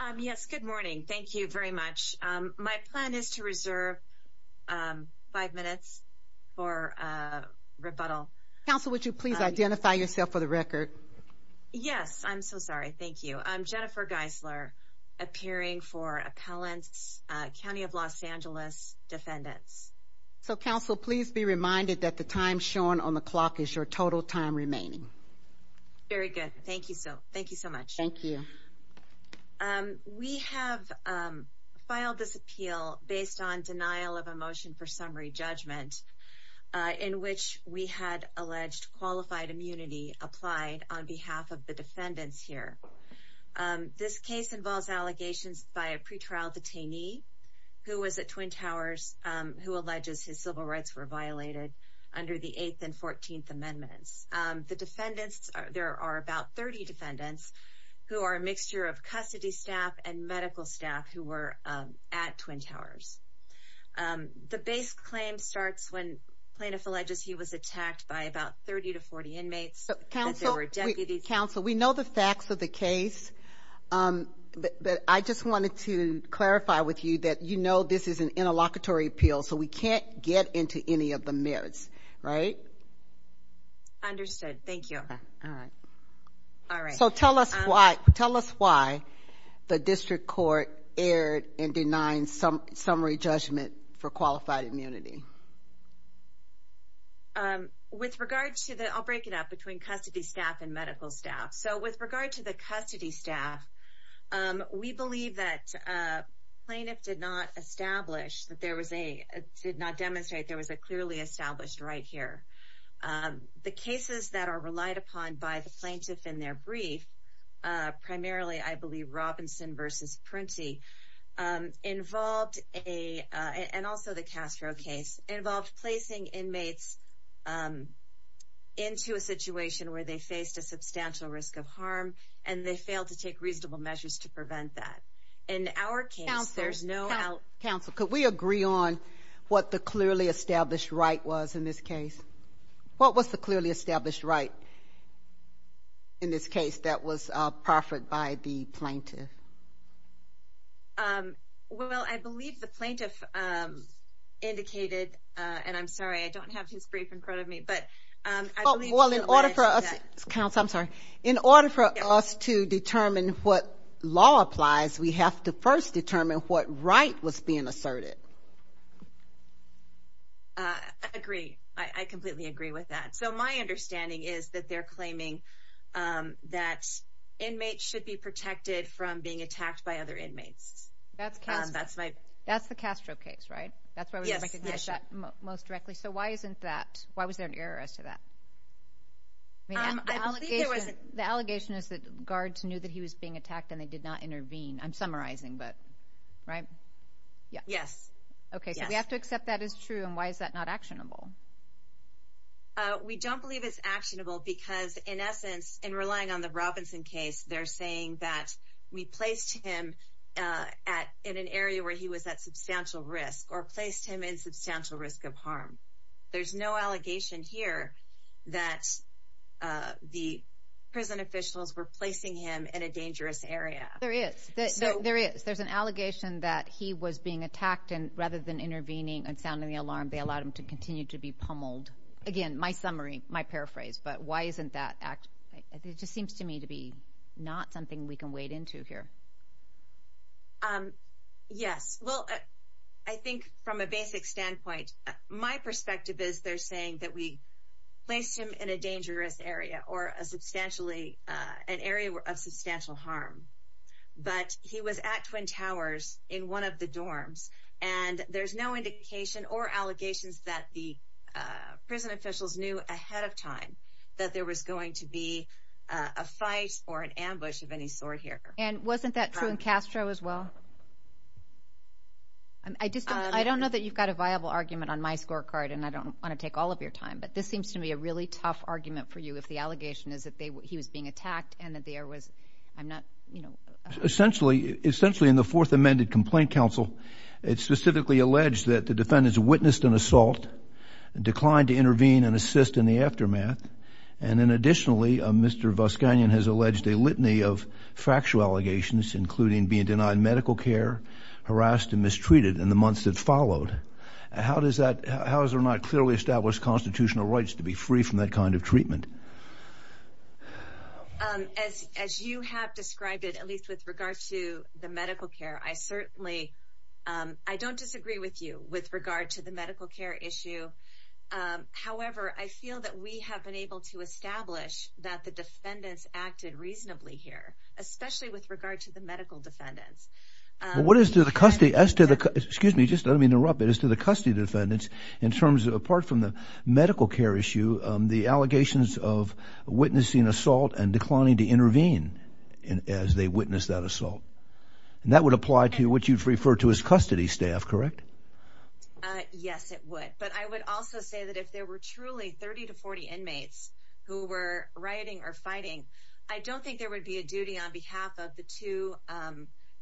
Um, yes. Good morning. Thank you very much. Um, my plan is to reserve, um, five minutes for, uh, rebuttal. Council, would you please identify yourself for the record? Yes, I'm so sorry. Thank you. I'm Jennifer Geisler appearing for appellants. County of Los Angeles defendants. So, Council, please be reminded that the time shown on the clock is your total time remaining. Very good. Thank you. So thank you so much. Thank you. Um, we have, um, filed this appeal based on denial of emotion for summary judgment, uh, in which we had alleged qualified immunity applied on behalf of the defendants here. Um, this case involves allegations by a pretrial detainee who was at Twin Towers, um, who alleges his civil rights were violated under the eighth and 14th amendments. Um, the defendants, there are about 30 defendants who are a mixture of custody staff and medical staff who were, um, at Twin Towers. Um, the base claim starts when plaintiff alleges he was attacked by about 30 to 40 inmates. Council, we know the facts of the case. Um, but I just wanted to clarify with you that, you know, this is an interlocutory appeal, so we can't get into any of the Thank you. All right. So tell us why. Tell us why the district court aired and denying some summary judgment for qualified immunity. Um, with regards to the I'll break it up between custody staff and medical staff. So with regard to the custody staff, um, we believe that, uh, plaintiff did not establish that there was a did not demonstrate there was a clearly established right here. Um, the cases that are relied upon by the plaintiff in their brief, uh, primarily, I believe Robinson versus Princey, um, involved a and also the Castro case involved placing inmates, um, into a situation where they faced a substantial risk of harm, and they failed to take reasonable measures to prevent that. In our case, there's no council. Could we agree on what the clearly established right was in this case? What was the clearly established right in this case that was proffered by the plaintiff? Um, well, I believe the plaintiff, um, indicated on. I'm sorry. I don't have his brief in front of me, but, um, well, in order for us, I'm sorry. In order for us to determine what law applies, we have to first determine what right was being asserted. I agree. I completely agree with that. So my understanding is that they're claiming, um, that inmates should be protected from being attacked by other inmates. That's that's my that's the Castro case, right? That's why we recognize that most directly. So why isn't that? Why was there an error as to that? I mean, the allegation is that guards knew that he was being attacked, and they did not intervene. I'm summarizing. But right. Yes. Okay. So we have to accept that is true. And why is that not actionable? We don't believe it's actionable because, in essence, in relying on the Robinson case, they're saying that we placed him, uh, at in an area where he was at substantial risk or placed him in substantial risk of harm. There's no allegation here that, uh, the prison officials were placing him in a dangerous area. There is. There is. There's an allegation that he was being attacked, and rather than intervening and sounding the alarm, they allowed him to continue to be pummeled again. My summary. My paraphrase. But why isn't that act? It just seems to me to be not something we can wade into here. Um, yes. Well, I think from a basic standpoint, my perspective is they're saying that we placed him in a dangerous area or a substantially an area of substantial harm. But he was at Twin Towers in one of the dorms, and there's no indication or allegations that the prison officials knew ahead of time that there was going to be a fight or an ambush of any sort here. And wasn't that true in Castro as well? I just I don't know that you've got a viable argument on my scorecard, and I want to take all of your time. But this seems to be a really tough argument for you. If the allegation is that he was being attacked and that there was I'm not, you know, essentially, essentially, in the Fourth Amended Complaint Council, it's specifically alleged that the defendants witnessed an assault, declined to intervene and assist in the aftermath. And then, additionally, Mr Bus Canyon has alleged a litany of factual allegations, including being denied medical care, harassed and mistreated in the months that followed. How does that? How is there not clearly established constitutional rights to be free from that kind of treatment? As as you have described it, at least with regard to the medical care, I certainly I don't disagree with you with regard to the medical care issue. However, I feel that we have been able to establish that the defendants acted reasonably here, especially with regard to the medical defendants. What is to custody as to the excuse me, just let me interrupt it as to the custody defendants in terms of apart from the medical care issue, the allegations of witnessing assault and declining to intervene as they witnessed that assault. And that would apply to what you refer to his custody staff, correct? Yes, it would. But I would also say that if there were truly 30 to 40 inmates who were writing or fighting, I don't think there would be a duty on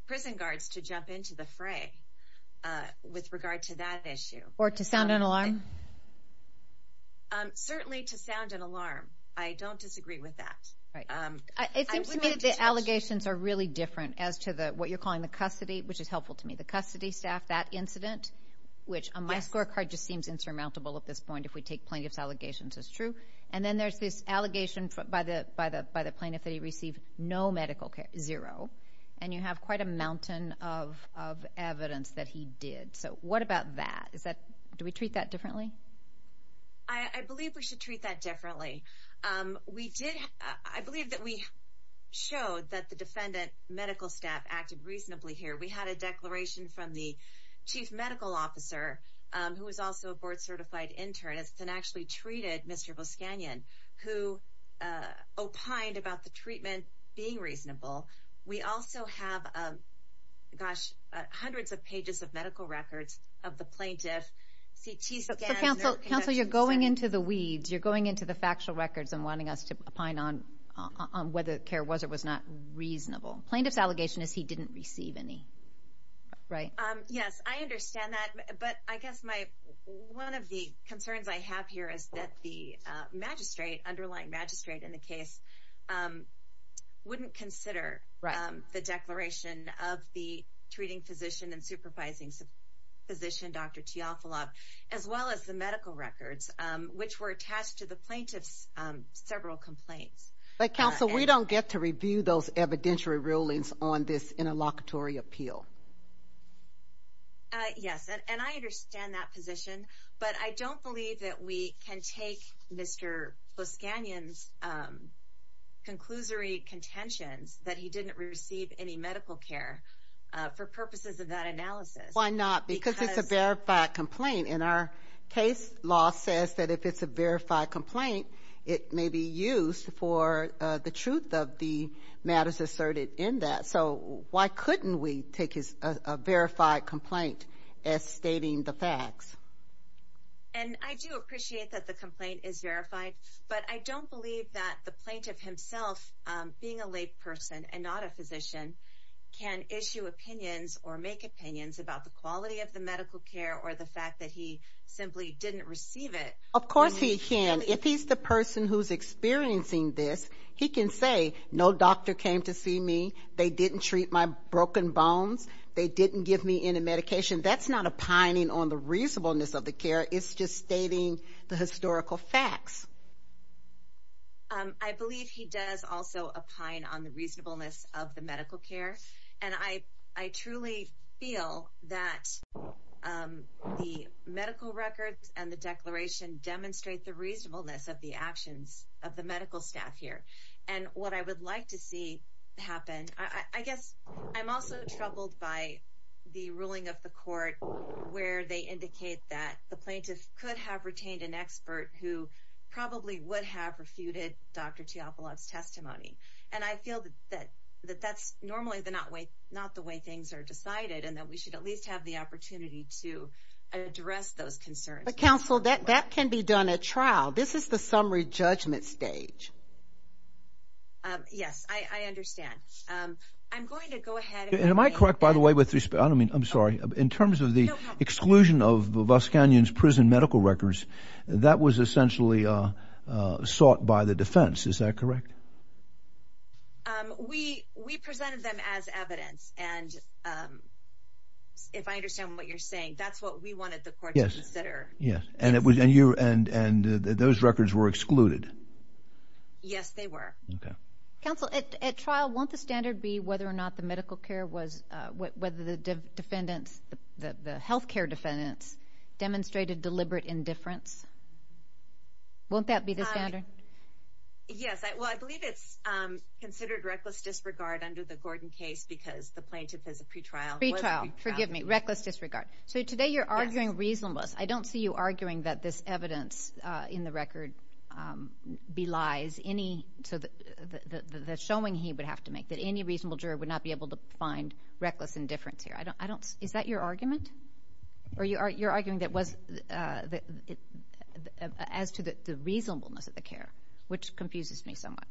to the fray with regard to that issue or to sound an alarm. Certainly to sound an alarm. I don't disagree with that. It seems to me that the allegations are really different as to the what you're calling the custody, which is helpful to me. The custody staff that incident, which my scorecard just seems insurmountable at this point. If we take plaintiff's allegations is true. And then there's this allegation by the by the by the plaintiff that he received no medical care zero. And you have quite a mountain of of evidence that he did. So what about that? Is that do we treat that differently? I believe we should treat that differently. Um, we did. I believe that we showed that the defendant medical staff acted reasonably here. We had a declaration from the chief medical officer who was also a board certified internist and actually treated Mr Buscanyan, who opined about the treatment being reasonable. We also have, um, gosh, hundreds of pages of medical records of the plaintiff. C. T. So Council Council, you're going into the weeds. You're going into the factual records and wanting us to opine on on whether care was it was not reasonable. Plaintiff's allegation is he didn't receive any. Right. Um, yes, I understand that. But I guess my one of the concerns I have here is that the magistrate underlying magistrate in the case, um, wouldn't consider the declaration of the treating physician and supervising physician Dr T off a lot as well as the medical records which were attached to the plaintiff's several complaints. But Council, we don't get to review those evidentiary rulings on this interlocutory appeal. Uh, yes, and I understand that position, but I don't believe that we can take Mr Buscanyan's, um, conclusory contentions that he didn't receive any medical care for purposes of that analysis. Why not? Because it's a verified complaint in our case. Law says that if it's a verified complaint, it may be used for the truth of the matters asserted in that. So why couldn't we take his verified complaint as stating the facts? And I do appreciate that the complaint is verified, but I don't believe that the plaintiff himself being a lay person and not a physician can issue opinions or make opinions about the quality of the medical care or the fact that he simply didn't receive it. Of course he can. If he's the person who's experiencing this, he can say, No doctor came to see me. They didn't treat my broken bones. They didn't give me any medication. That's not opining on the reasonableness of the care. It's just stating the historical facts. I believe he does also opine on the reasonableness of the medical care, and I I truly feel that, um, the medical records and the declaration demonstrate the reasonableness of the actions of the medical staff here and what I would like to see happen. I guess I'm also troubled by the ruling of the court where they indicate that the plaintiff could have retained an expert who probably would have refuted Dr Teopolis testimony. And I feel that that that that's normally the not way, not the way things are decided, and that we should at least have the opportunity to address those concerns. The council that that can be done a trial. This is the summary judgment stage. Yes, I understand. Um, I'm going to go ahead. Am I correct? By the way, with respect? I mean, I'm sorry. In terms of the exclusion of the bus canyons, prison medical records that was essentially, uh, sought by the defense. Is that correct? Um, we we presented them as evidence. And, um, if I understand what you're Yes. And it was. And you and and those records were excluded. Yes, they were. Okay. Counsel at trial. Won't the standard be whether or not the medical care was whether the defendants, the health care defendants demonstrated deliberate indifference? Won't that be the standard? Yes. Well, I believe it's considered reckless disregard under the Gordon case because the plaintiff is a pretrial trial. Forgive me. Reckless disregard. So today you're arguing reasonableness. I don't see you arguing that this evidence in the record, um, belies any so that the showing he would have to make that any reasonable juror would not be able to find reckless indifference here. I don't I don't. Is that your argument? Or you are? You're arguing that was, uh, as to the reasonableness of the care, which confuses me so much,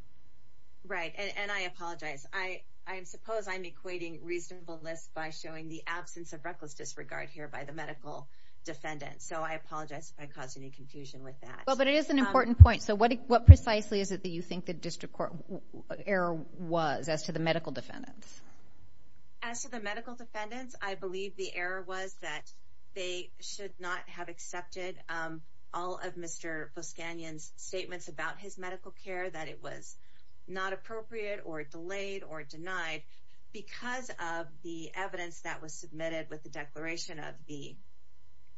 right? And I apologize. I I suppose I'm equating reasonableness by showing the absence of reckless disregard here by the medical defendant. So I apologize if I caused any confusion with that. Well, but it is an important point. So what? What precisely is it that you think the district court error was as to the medical defendants as to the medical defendants? I believe the error was that they should not have accepted, um, all of Mr Buscanion's statements about his medical care, that it was not of the evidence that was submitted with the declaration of the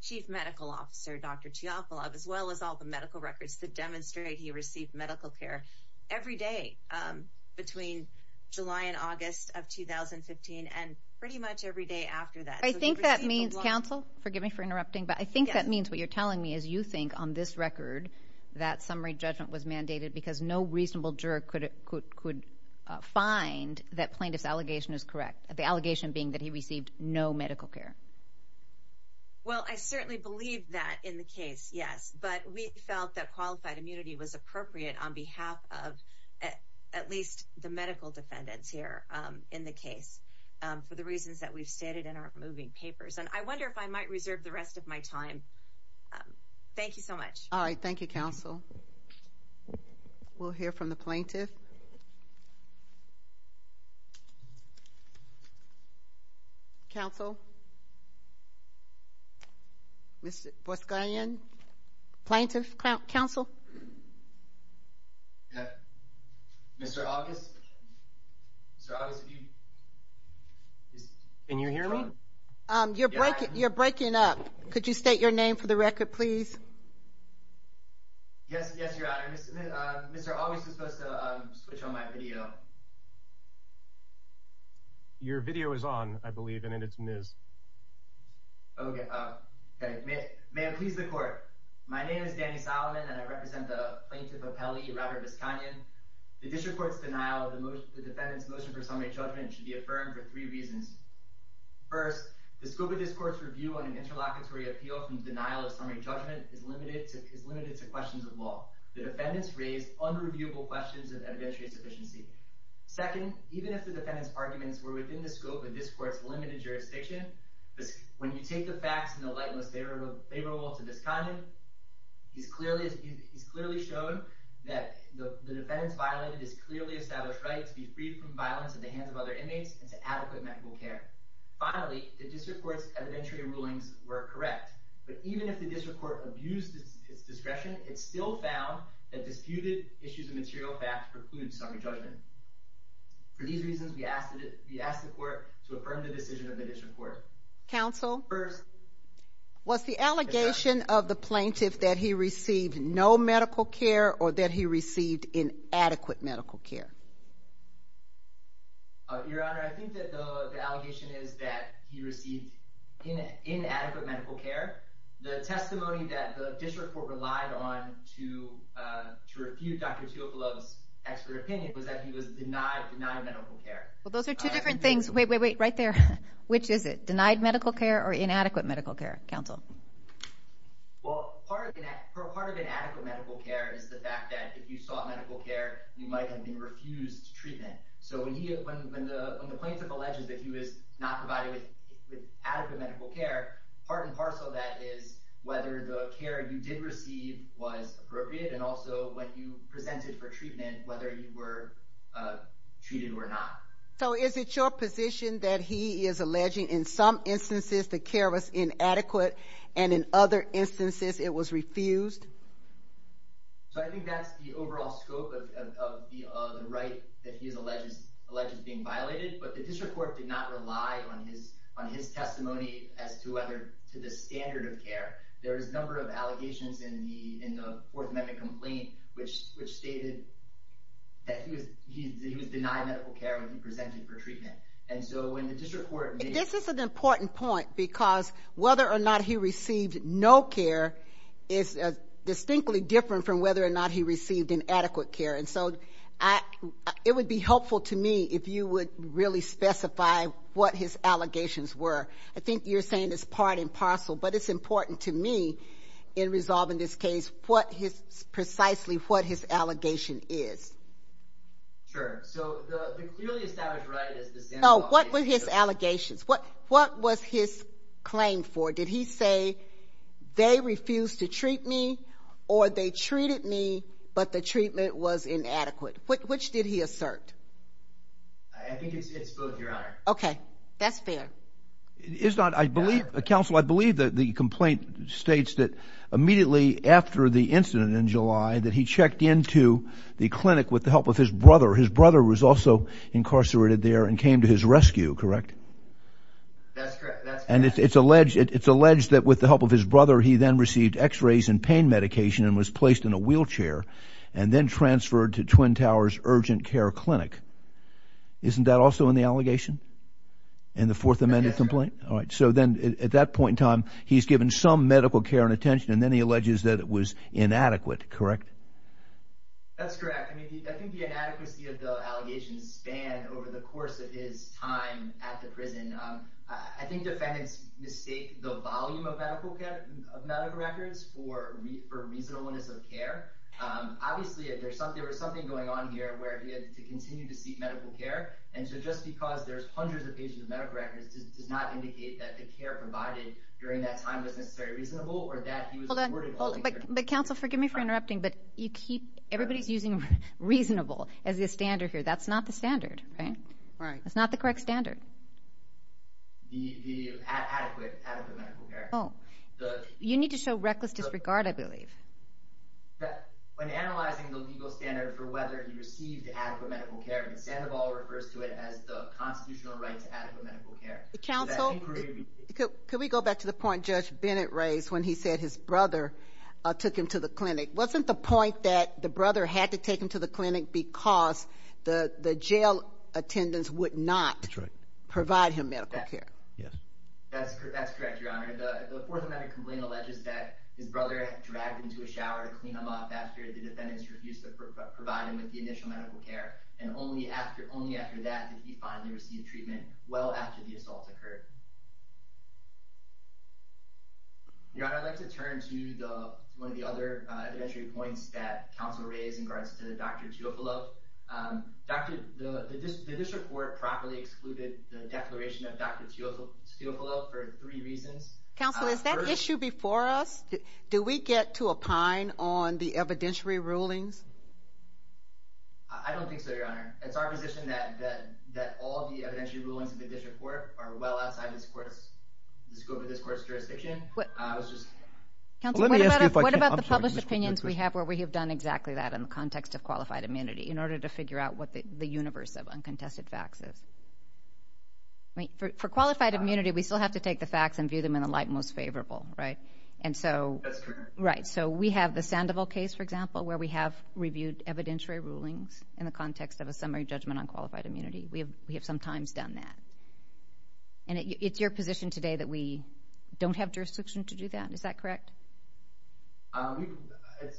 chief medical officer, Dr Teofilov, as well as all the medical records that demonstrate he received medical care every day between July and August of 2015 and pretty much every day after that. I think that means counsel forgive me for interrupting, but I think that means what you're telling me is you think on this record that summary judgment was mandated because no reasonable juror could could could find that plaintiff's allegation is correct. The allegation being that he received no medical care. Well, I certainly believe that in the case. Yes, but we felt that qualified immunity was appropriate on behalf of at least the medical defendants here in the case for the reasons that we've stated in our moving papers. And I wonder if I might reserve the rest of my time. Um, thank you so much. All right. Thank you, Counsel. We'll hear from the plaintiff Council. Mr. Buscain, Plaintiff Council. Mr August. So I was can you hear me? Um, you're breaking. You're breaking up. Could you state your name for the record, please? Yes. Yes, Your Honor. Mr August is supposed to switch on my video. Your video is on, I believe, and it's Ms. Okay. May I please the court? My name is Danny Solomon, and I represent the plaintiff of Pele, Robert Buscain. The district court's denial of the defendant's motion for summary judgment should be affirmed for three reasons. First, the scope of this court's review on an interlocutory appeal from denial of summary judgment is limited to questions of law. The defendants raised unreviewable questions of evidentiary sufficiency. Second, even if the defendant's arguments were within the scope of this court's limited jurisdiction, when you take the facts and the lightness favorable to this comment, it's clearly shown that the defendant's violated this clearly established right to be freed from violence at the hands of other inmates and to adequate medical care. Finally, the district court's evidentiary rulings were correct. But even if the district court abused its discretion, it still found that disputed issues of material facts precludes summary judgment. For these reasons, we asked the court to affirm the decision of the district court. Counsel? First, was the allegation of the plaintiff that he received no medical care or that he received inadequate medical care? Your Honor, I think that the allegation is that he received inadequate medical care. The testimony that the district court relied on to refute Dr. Tuokalo's expert opinion was that he was denied medical care. Well, those are two different things. Wait, wait, wait. Right there. Which is it? Denied medical care or inadequate medical care? Counsel? Well, part of an inadequate medical care is the fact that if you sought medical care, you might have been refused treatment. So when the plaintiff alleges that he was not provided with adequate medical care, part and parcel of that is whether the care you did receive was appropriate and also what you presented for treatment, whether you were treated or not. So is it your position that he is alleging in some instances the care was inadequate and in other instances it was refused? So I think that's the overall scope of the right that he's alleged, alleged being violated. But the district court did not rely on his on his testimony as to whether to the standard of care. There is a number of allegations in the in the Fourth Amendment complaint, which which stated that he was he was denied medical care when he presented for treatment. And so when the district court, this is an important point because whether or not he received no care is distinctly different from whether or not he received inadequate care. And so it would be helpful to me if you would really specify what his allegations were. I think you're saying it's part and parcel, but it's important to me in resolving this case, what his precisely what his allegation is. Sure. So the clearly established right is this. No. What were his claim for? Did he say they refused to treat me or they treated me, but the treatment was inadequate. Which did he assert? I think it's both, Your Honor. Okay, that's fair. It's not. I believe council. I believe that the complaint states that immediately after the incident in July that he checked into the clinic with the help of his brother. His brother was also incarcerated there and came to his it's alleged. It's alleged that with the help of his brother, he then received x rays and pain medication and was placed in a wheelchair and then transferred to Twin Towers Urgent Care Clinic. Isn't that also in the allegation and the Fourth Amendment complaint? All right. So then at that point in time, he's given some medical care and attention, and then he alleges that it was inadequate. Correct. That's correct. I mean, I think the inadequacy of the allegations span over the course of his time at the prison. I think defendants mistake the volume of medical care of medical records for for reasonableness of care. Obviously, if there's something there was something going on here where he had to continue to seek medical care. And so just because there's hundreds of patients medical records does not indicate that the care provided during that time was necessary, reasonable or that he was ordered. But Council, forgive me for interrupting, but you keep everybody's using reasonable as the standard here. That's not the standard, right? That's not the correct standard. The adequate medical care. Oh, you need to show reckless disregard, I believe that when analyzing the legal standard for whether you received adequate medical care instead of all refers to it as the constitutional right to adequate medical care. The council could we go back to the point Judge Bennett raised when he said his brother took him to the clinic? Wasn't the point that the brother had to take him to the clinic because the jail attendants would not provide him medical care? Yes, that's correct. That's correct. Your honor. The fourth amendment complaint alleges that his brother dragged into a shower to clean them up after the defendants refused to provide him with the initial medical care. And only after only after that did he finally receive treatment well after the assault occurred. Yeah. Your honor, I'd like to turn to the one of the other entry points that council raised in regards to the doctor to upload. Um, doctor, the district court properly excluded the declaration of Dr Teo Teofilo for three reasons. Council, is that issue before us? Do we get to opine on the evidentiary rulings? I don't think so, Your Honor. It's our position that that that all the rulings of the district court are well outside this court's scope of this court's jurisdiction. Council, what about the published opinions we have where we have done exactly that in the context of qualified immunity in order to figure out what the universe of uncontested facts is? Wait for qualified immunity. We still have to take the facts and view them in the light most favorable, right? And so, right. So we have the Sandoval case, for example, where we have reviewed evidentiary rulings in the times done that. And it's your position today that we don't have jurisdiction to do that. Is that correct? Um,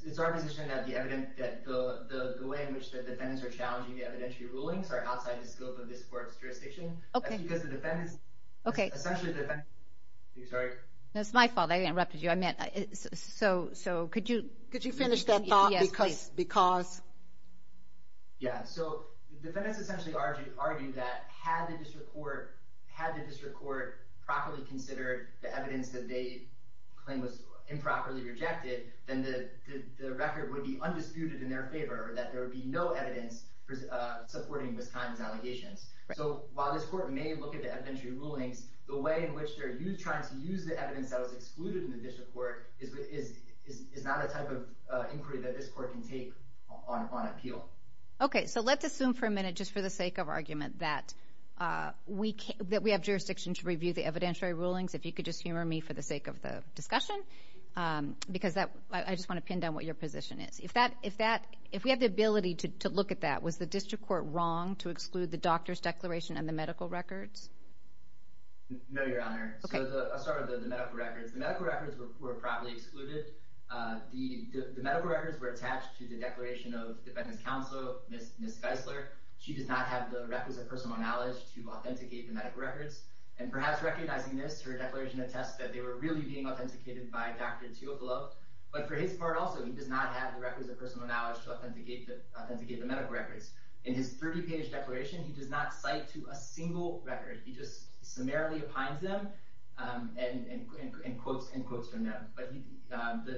it's our position that the evidence that the way in which the defendants are challenging evidentiary rulings are outside the scope of this court's jurisdiction. Okay, because the defendants, okay, essentially, sorry, that's my fault. I interrupted you. I meant so. So could you could you finish that thought? Because because yeah, so defendants essentially argued argued that had the district court had the district court properly considered the evidence that they claim was improperly rejected, then the record would be undisputed in their favor, that there would be no evidence supporting this kind of allegations. So while this court may look at the evidentiary rulings, the way in which they're trying to use the evidence that was excluded in the district court is not a type of inquiry that this court can take on appeal. Okay, so let's assume for a minute, just for the sake of argument, that we have jurisdiction to review the evidentiary rulings. If you could just humor me for the sake of the discussion, because I just wanna pin down what your position is. If we have the ability to look at that, was the district court wrong to exclude the doctor's declaration and the medical records? No, Your Honor. So I'll start with the medical records. The medical records were probably excluded. The medical records were attached to the Declaration of Defendant's Counselor, Ms. Geisler. She does not have the records of personal knowledge to authenticate the medical records. And perhaps recognizing this, her declaration attests that they were really being authenticated by Dr. Tiocolo. But for his part also, he does not have the records of personal knowledge to authenticate the medical records. In his 30 page declaration, he does not cite to a single record. He just summarily opines them and quotes from them. But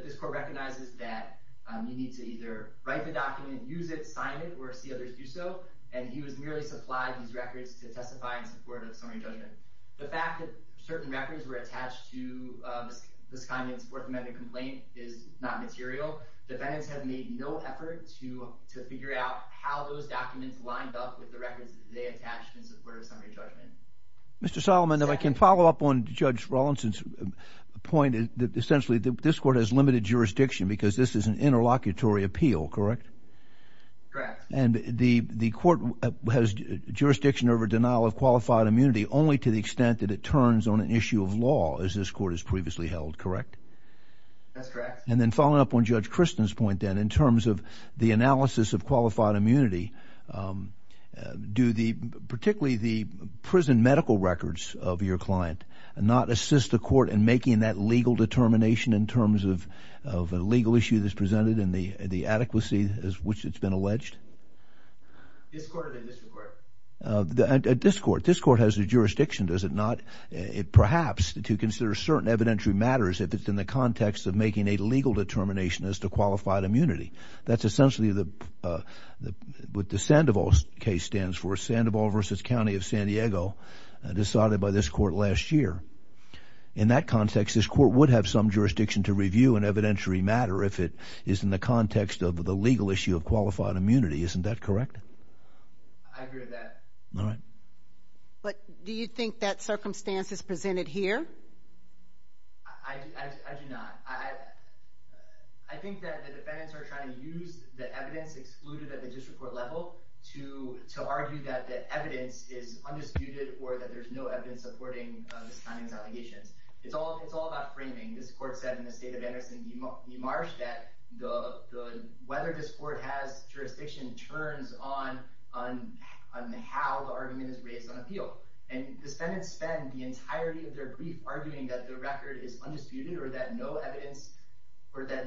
this court recognizes that you need to either write the document, use it, sign it, or see others do so. And he was merely supplied these records to testify in support of summary judgment. The fact that certain records were attached to this kind of work-amended complaint is not material. Defendants have made no effort to figure out how those documents lined up with the records they attached in support of summary judgment. Mr. Rawlinson's point is that essentially this court has limited jurisdiction because this is an interlocutory appeal, correct? Correct. And the court has jurisdiction over denial of qualified immunity only to the extent that it turns on an issue of law, as this court has previously held, correct? That's correct. And then following up on Judge Kristen's point then, in terms of the analysis of qualified immunity, do the particularly the prison medical records of your client not assist the court in making that legal determination in terms of a legal issue that's presented and the adequacy as which it's been alleged? This court or the initial court? This court. This court has the jurisdiction, does it not, perhaps to consider certain evidentiary matters if it's in the context of making a legal determination as to qualified immunity. That's essentially what the Sandoval case stands for. Sandoval v. County of San Francisco was signed by this court last year. In that context, this court would have some jurisdiction to review an evidentiary matter if it is in the context of the legal issue of qualified immunity. Isn't that correct? I agree with that. All right. But do you think that circumstance is presented here? I do not. I think that the defendants are trying to use the evidence excluded at the district court level to argue that the evidence is undisputed or that there's no evidence supporting this client's allegations. It's all about framing. This court said in the state of Anderson v. Marsh that whether this court has jurisdiction turns on how the argument is raised on appeal. And the defendants spend the entirety of their brief arguing that the record is undisputed or that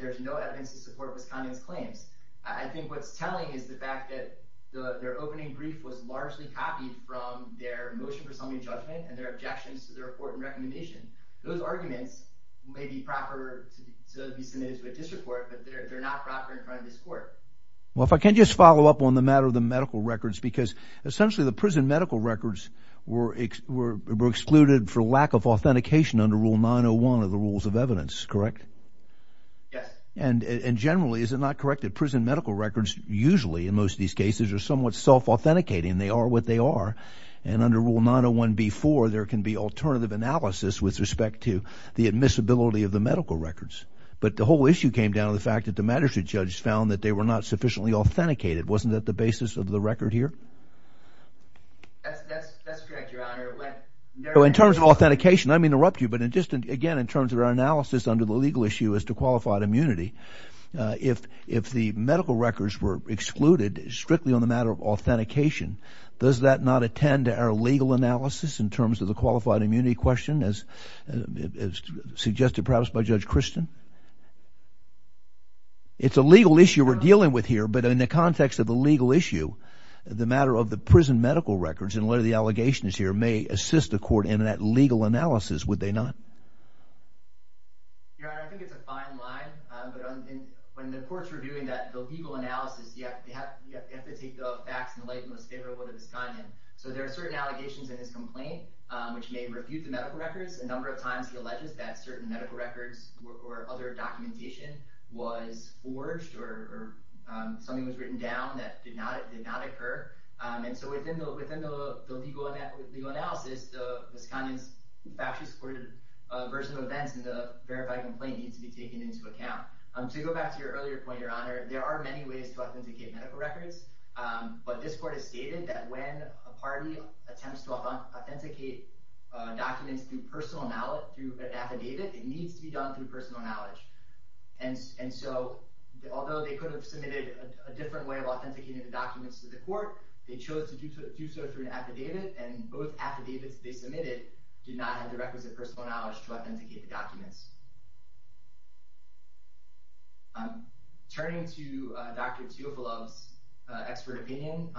there's no evidence to support this client's claims. I think what's telling is the fact that their opening brief was objections to the report and recommendation. Those arguments may be proper to be submitted to a district court, but they're not proper in front of this court. Well, if I can just follow up on the matter of the medical records, because essentially the prison medical records were excluded for lack of authentication under Rule 901 of the Rules of Evidence, correct? Yes. And generally, is it not correct that prison medical records usually, in most of these cases, are somewhat self-authenticating? They are what they are. And under Rule 901b-4, there can be alternative analysis with respect to the admissibility of the medical records. But the whole issue came down to the fact that the magistrate judge found that they were not sufficiently authenticated. Wasn't that the basis of the record here? That's correct, Your Honor. In terms of authentication, I may interrupt you, but just again in terms of our analysis under the legal issue as to qualified immunity, if the medical records were excluded strictly on the matter of authentication, does that not attend to our legal analysis in terms of the qualified immunity question, as suggested perhaps by Judge Christian? It's a legal issue we're dealing with here, but in the context of the legal issue, the matter of the prison medical records and whether the allegations here may assist the court in that legal analysis, would they not? Your Honor, I think it's a fine line, but when the courts are doing that, the legal analysis, you have to take the facts in the light most favorable to Visconian. So there are certain allegations in this complaint which may refute the medical records. A number of times he alleges that certain medical records or other documentation was forged or something was written down that did not occur. And so within the legal analysis, Visconian's factually supported version of events in the verified complaint needs to be taken into account. To go back to your earlier point, Your Honor, there are many ways to authenticate medical records, but this court has stated that when a party attempts to authenticate documents through personal knowledge, through an affidavit, it needs to be done through personal knowledge. And so although they could have submitted a different way of authenticating the documents to the court, they chose to do so through an affidavit, and both affidavits they submitted did not have the requisite personal knowledge to authenticate the documents. Turning to Dr. Teofilov's expert opinion,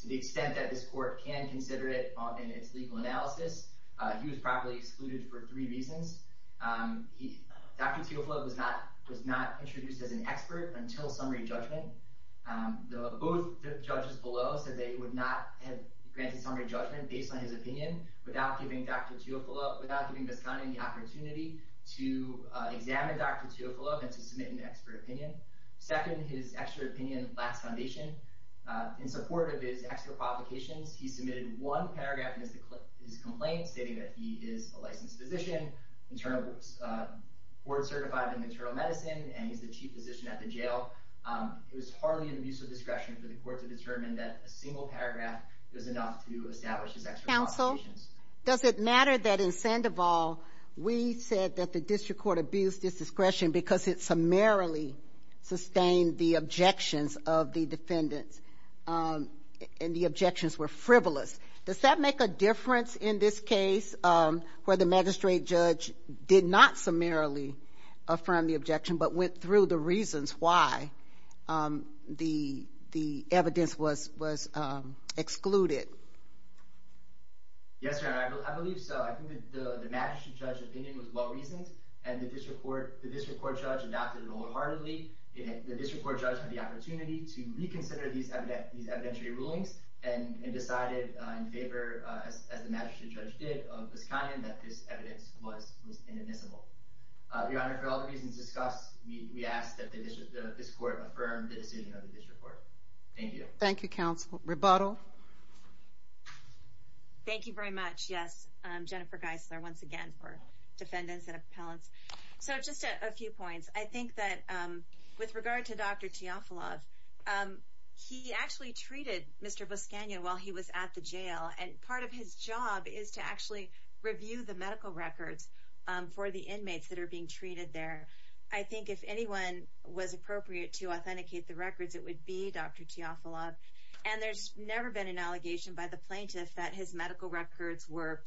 to the extent that this court can consider it in its legal analysis, he was probably excluded for three reasons. Dr. Teofilov was not introduced as an expert until summary judgment. Both judges below said they would not have granted summary judgment based on his opinion without Dr. Teofilov, without giving Visconian the opportunity to examine Dr. Teofilov and to submit an expert opinion. Second, his expert opinion lacks foundation. In support of his expert qualifications, he submitted one paragraph of his complaint stating that he is a licensed physician, board certified in maternal medicine, and he's the chief physician at the jail. It was hardly an abuse of discretion for the court to determine that a single paragraph was an abuse of discretion. Does it matter that in Sandoval, we said that the district court abused its discretion because it summarily sustained the objections of the defendants, and the objections were frivolous? Does that make a difference in this case where the magistrate judge did not summarily affirm the objection but went through the reasons why the evidence was excluded? Yes, Your Honor, I believe so. I think the magistrate judge's opinion was well reasoned, and the district court judge adopted it wholeheartedly. The district court judge had the opportunity to reconsider these evidentiary rulings and decided in favor, as the magistrate judge did, of Visconian that this evidence was inadmissible. Your Honor, for all the reasons discussed, we ask that this court affirm the decision of the district court. Thank you. Thank you, counsel. Rebuttal? Thank you very much. Yes, Jennifer Geisler, once again, for defendants and appellants. So just a few points. I think that with regard to Dr. Teofilov, he actually treated Mr. Visconian while he was at the jail, and part of his job is to actually review the medical records for the inmates that are being treated there. I think if anyone was appropriate to authenticate the records, it would be Dr. Teofilov, and there's never been an allegation by the plaintiff that his medical records were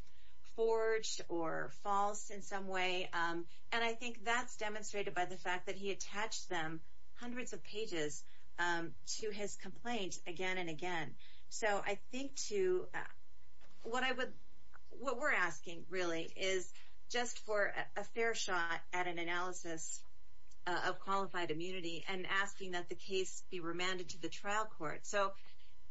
forged or false in some way, and I think that's demonstrated by the fact that he attached them, hundreds of pages, to his complaint again and again. So I think, too, what we're asking, really, is just for a fair shot at an analysis of qualified immunity and asking that the case be remanded to the trial court. So,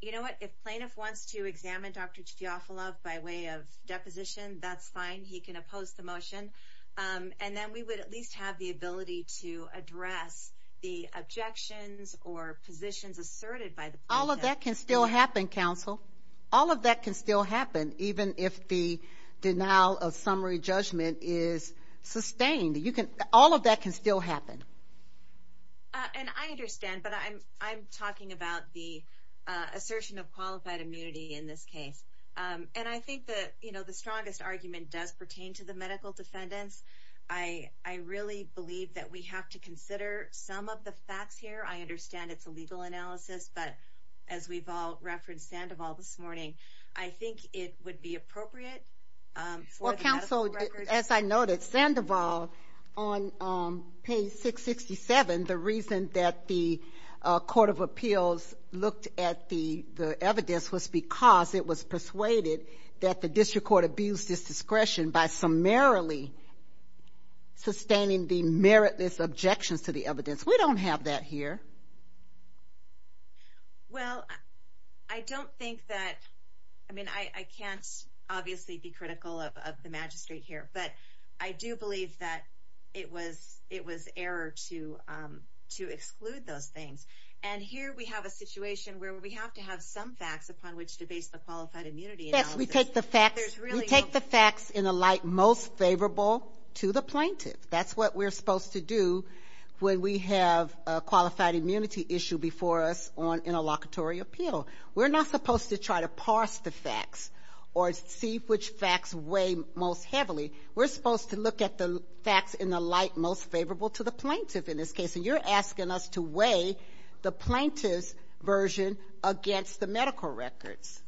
you know what, if plaintiff wants to examine Dr. Teofilov by way of deposition, that's fine. He can oppose the motion, and then we would at least have the ability to address the objections or positions asserted by the plaintiff. All of that can still happen, counsel. All of that can still happen, even if the denial of summary I understand, but I'm talking about the assertion of qualified immunity in this case, and I think that, you know, the strongest argument does pertain to the medical defendants. I really believe that we have to consider some of the facts here. I understand it's a legal analysis, but as we've all referenced Sandoval this morning, I think it would be appropriate for counsel. As I noted, Sandoval, on page 667, the reason that the Court of Appeals looked at the evidence was because it was persuaded that the district court abused its discretion by summarily sustaining the meritless objections to the evidence. We don't have that here. Well, I don't think that, I mean, I can't obviously be sure, but I do believe that it was error to exclude those things, and here we have a situation where we have to have some facts upon which to base the qualified immunity analysis. Yes, we take the facts in a light most favorable to the plaintiff. That's what we're supposed to do when we have a qualified immunity issue before us in a locatory appeal. We're not supposed to try to get the facts in the light most favorable to the plaintiff in this case, and you're asking us to weigh the plaintiff's version against the medical records.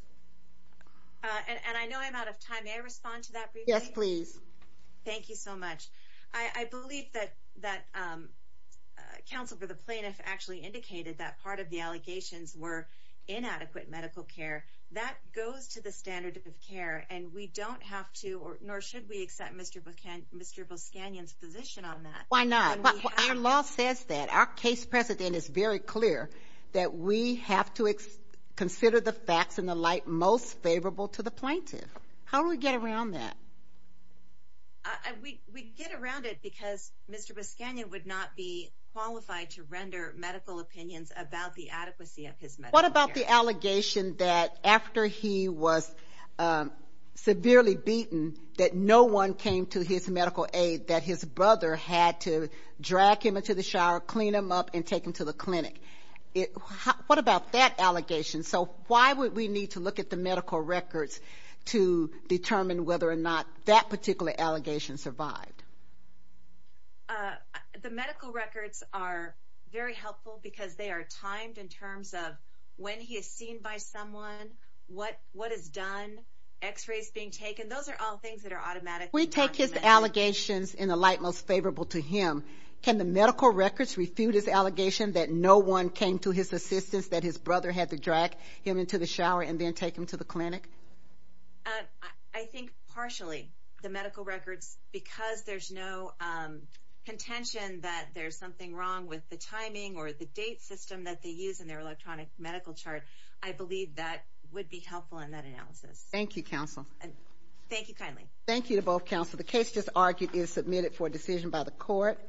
And I know I'm out of time. May I respond to that? Yes, please. Thank you so much. I believe that that counsel for the plaintiff actually indicated that part of the allegations were inadequate medical care. That goes to the standard of care, and we don't have to, nor should we, accept Mr. Buscanyan's position on that. Why not? Our law says that. Our case precedent is very clear that we have to consider the facts in the light most favorable to the plaintiff. How do we get around that? We get around it because Mr. Buscanyan would not be qualified to render medical opinions about the adequacy of his medical care. What about the severely beaten that no one came to his medical aid that his brother had to drag him into the shower, clean him up, and take him to the clinic? What about that allegation? So why would we need to look at the medical records to determine whether or not that particular allegation survived? The medical records are very helpful because they are timed in terms of when he is seen by someone, what is done, x-rays being taken. Those are all things that are automatically documented. We take his allegations in the light most favorable to him. Can the medical records refute his allegation that no one came to his assistance that his brother had to drag him into the shower and then take him to the clinic? I think partially. The medical records, because there's no contention that there's something wrong with the timing or the date system that they use in their medical chart. I believe that would be helpful in that analysis. Thank you, counsel. Thank you kindly. Thank you to both counsel. The case just argued is submitted for decision by the court.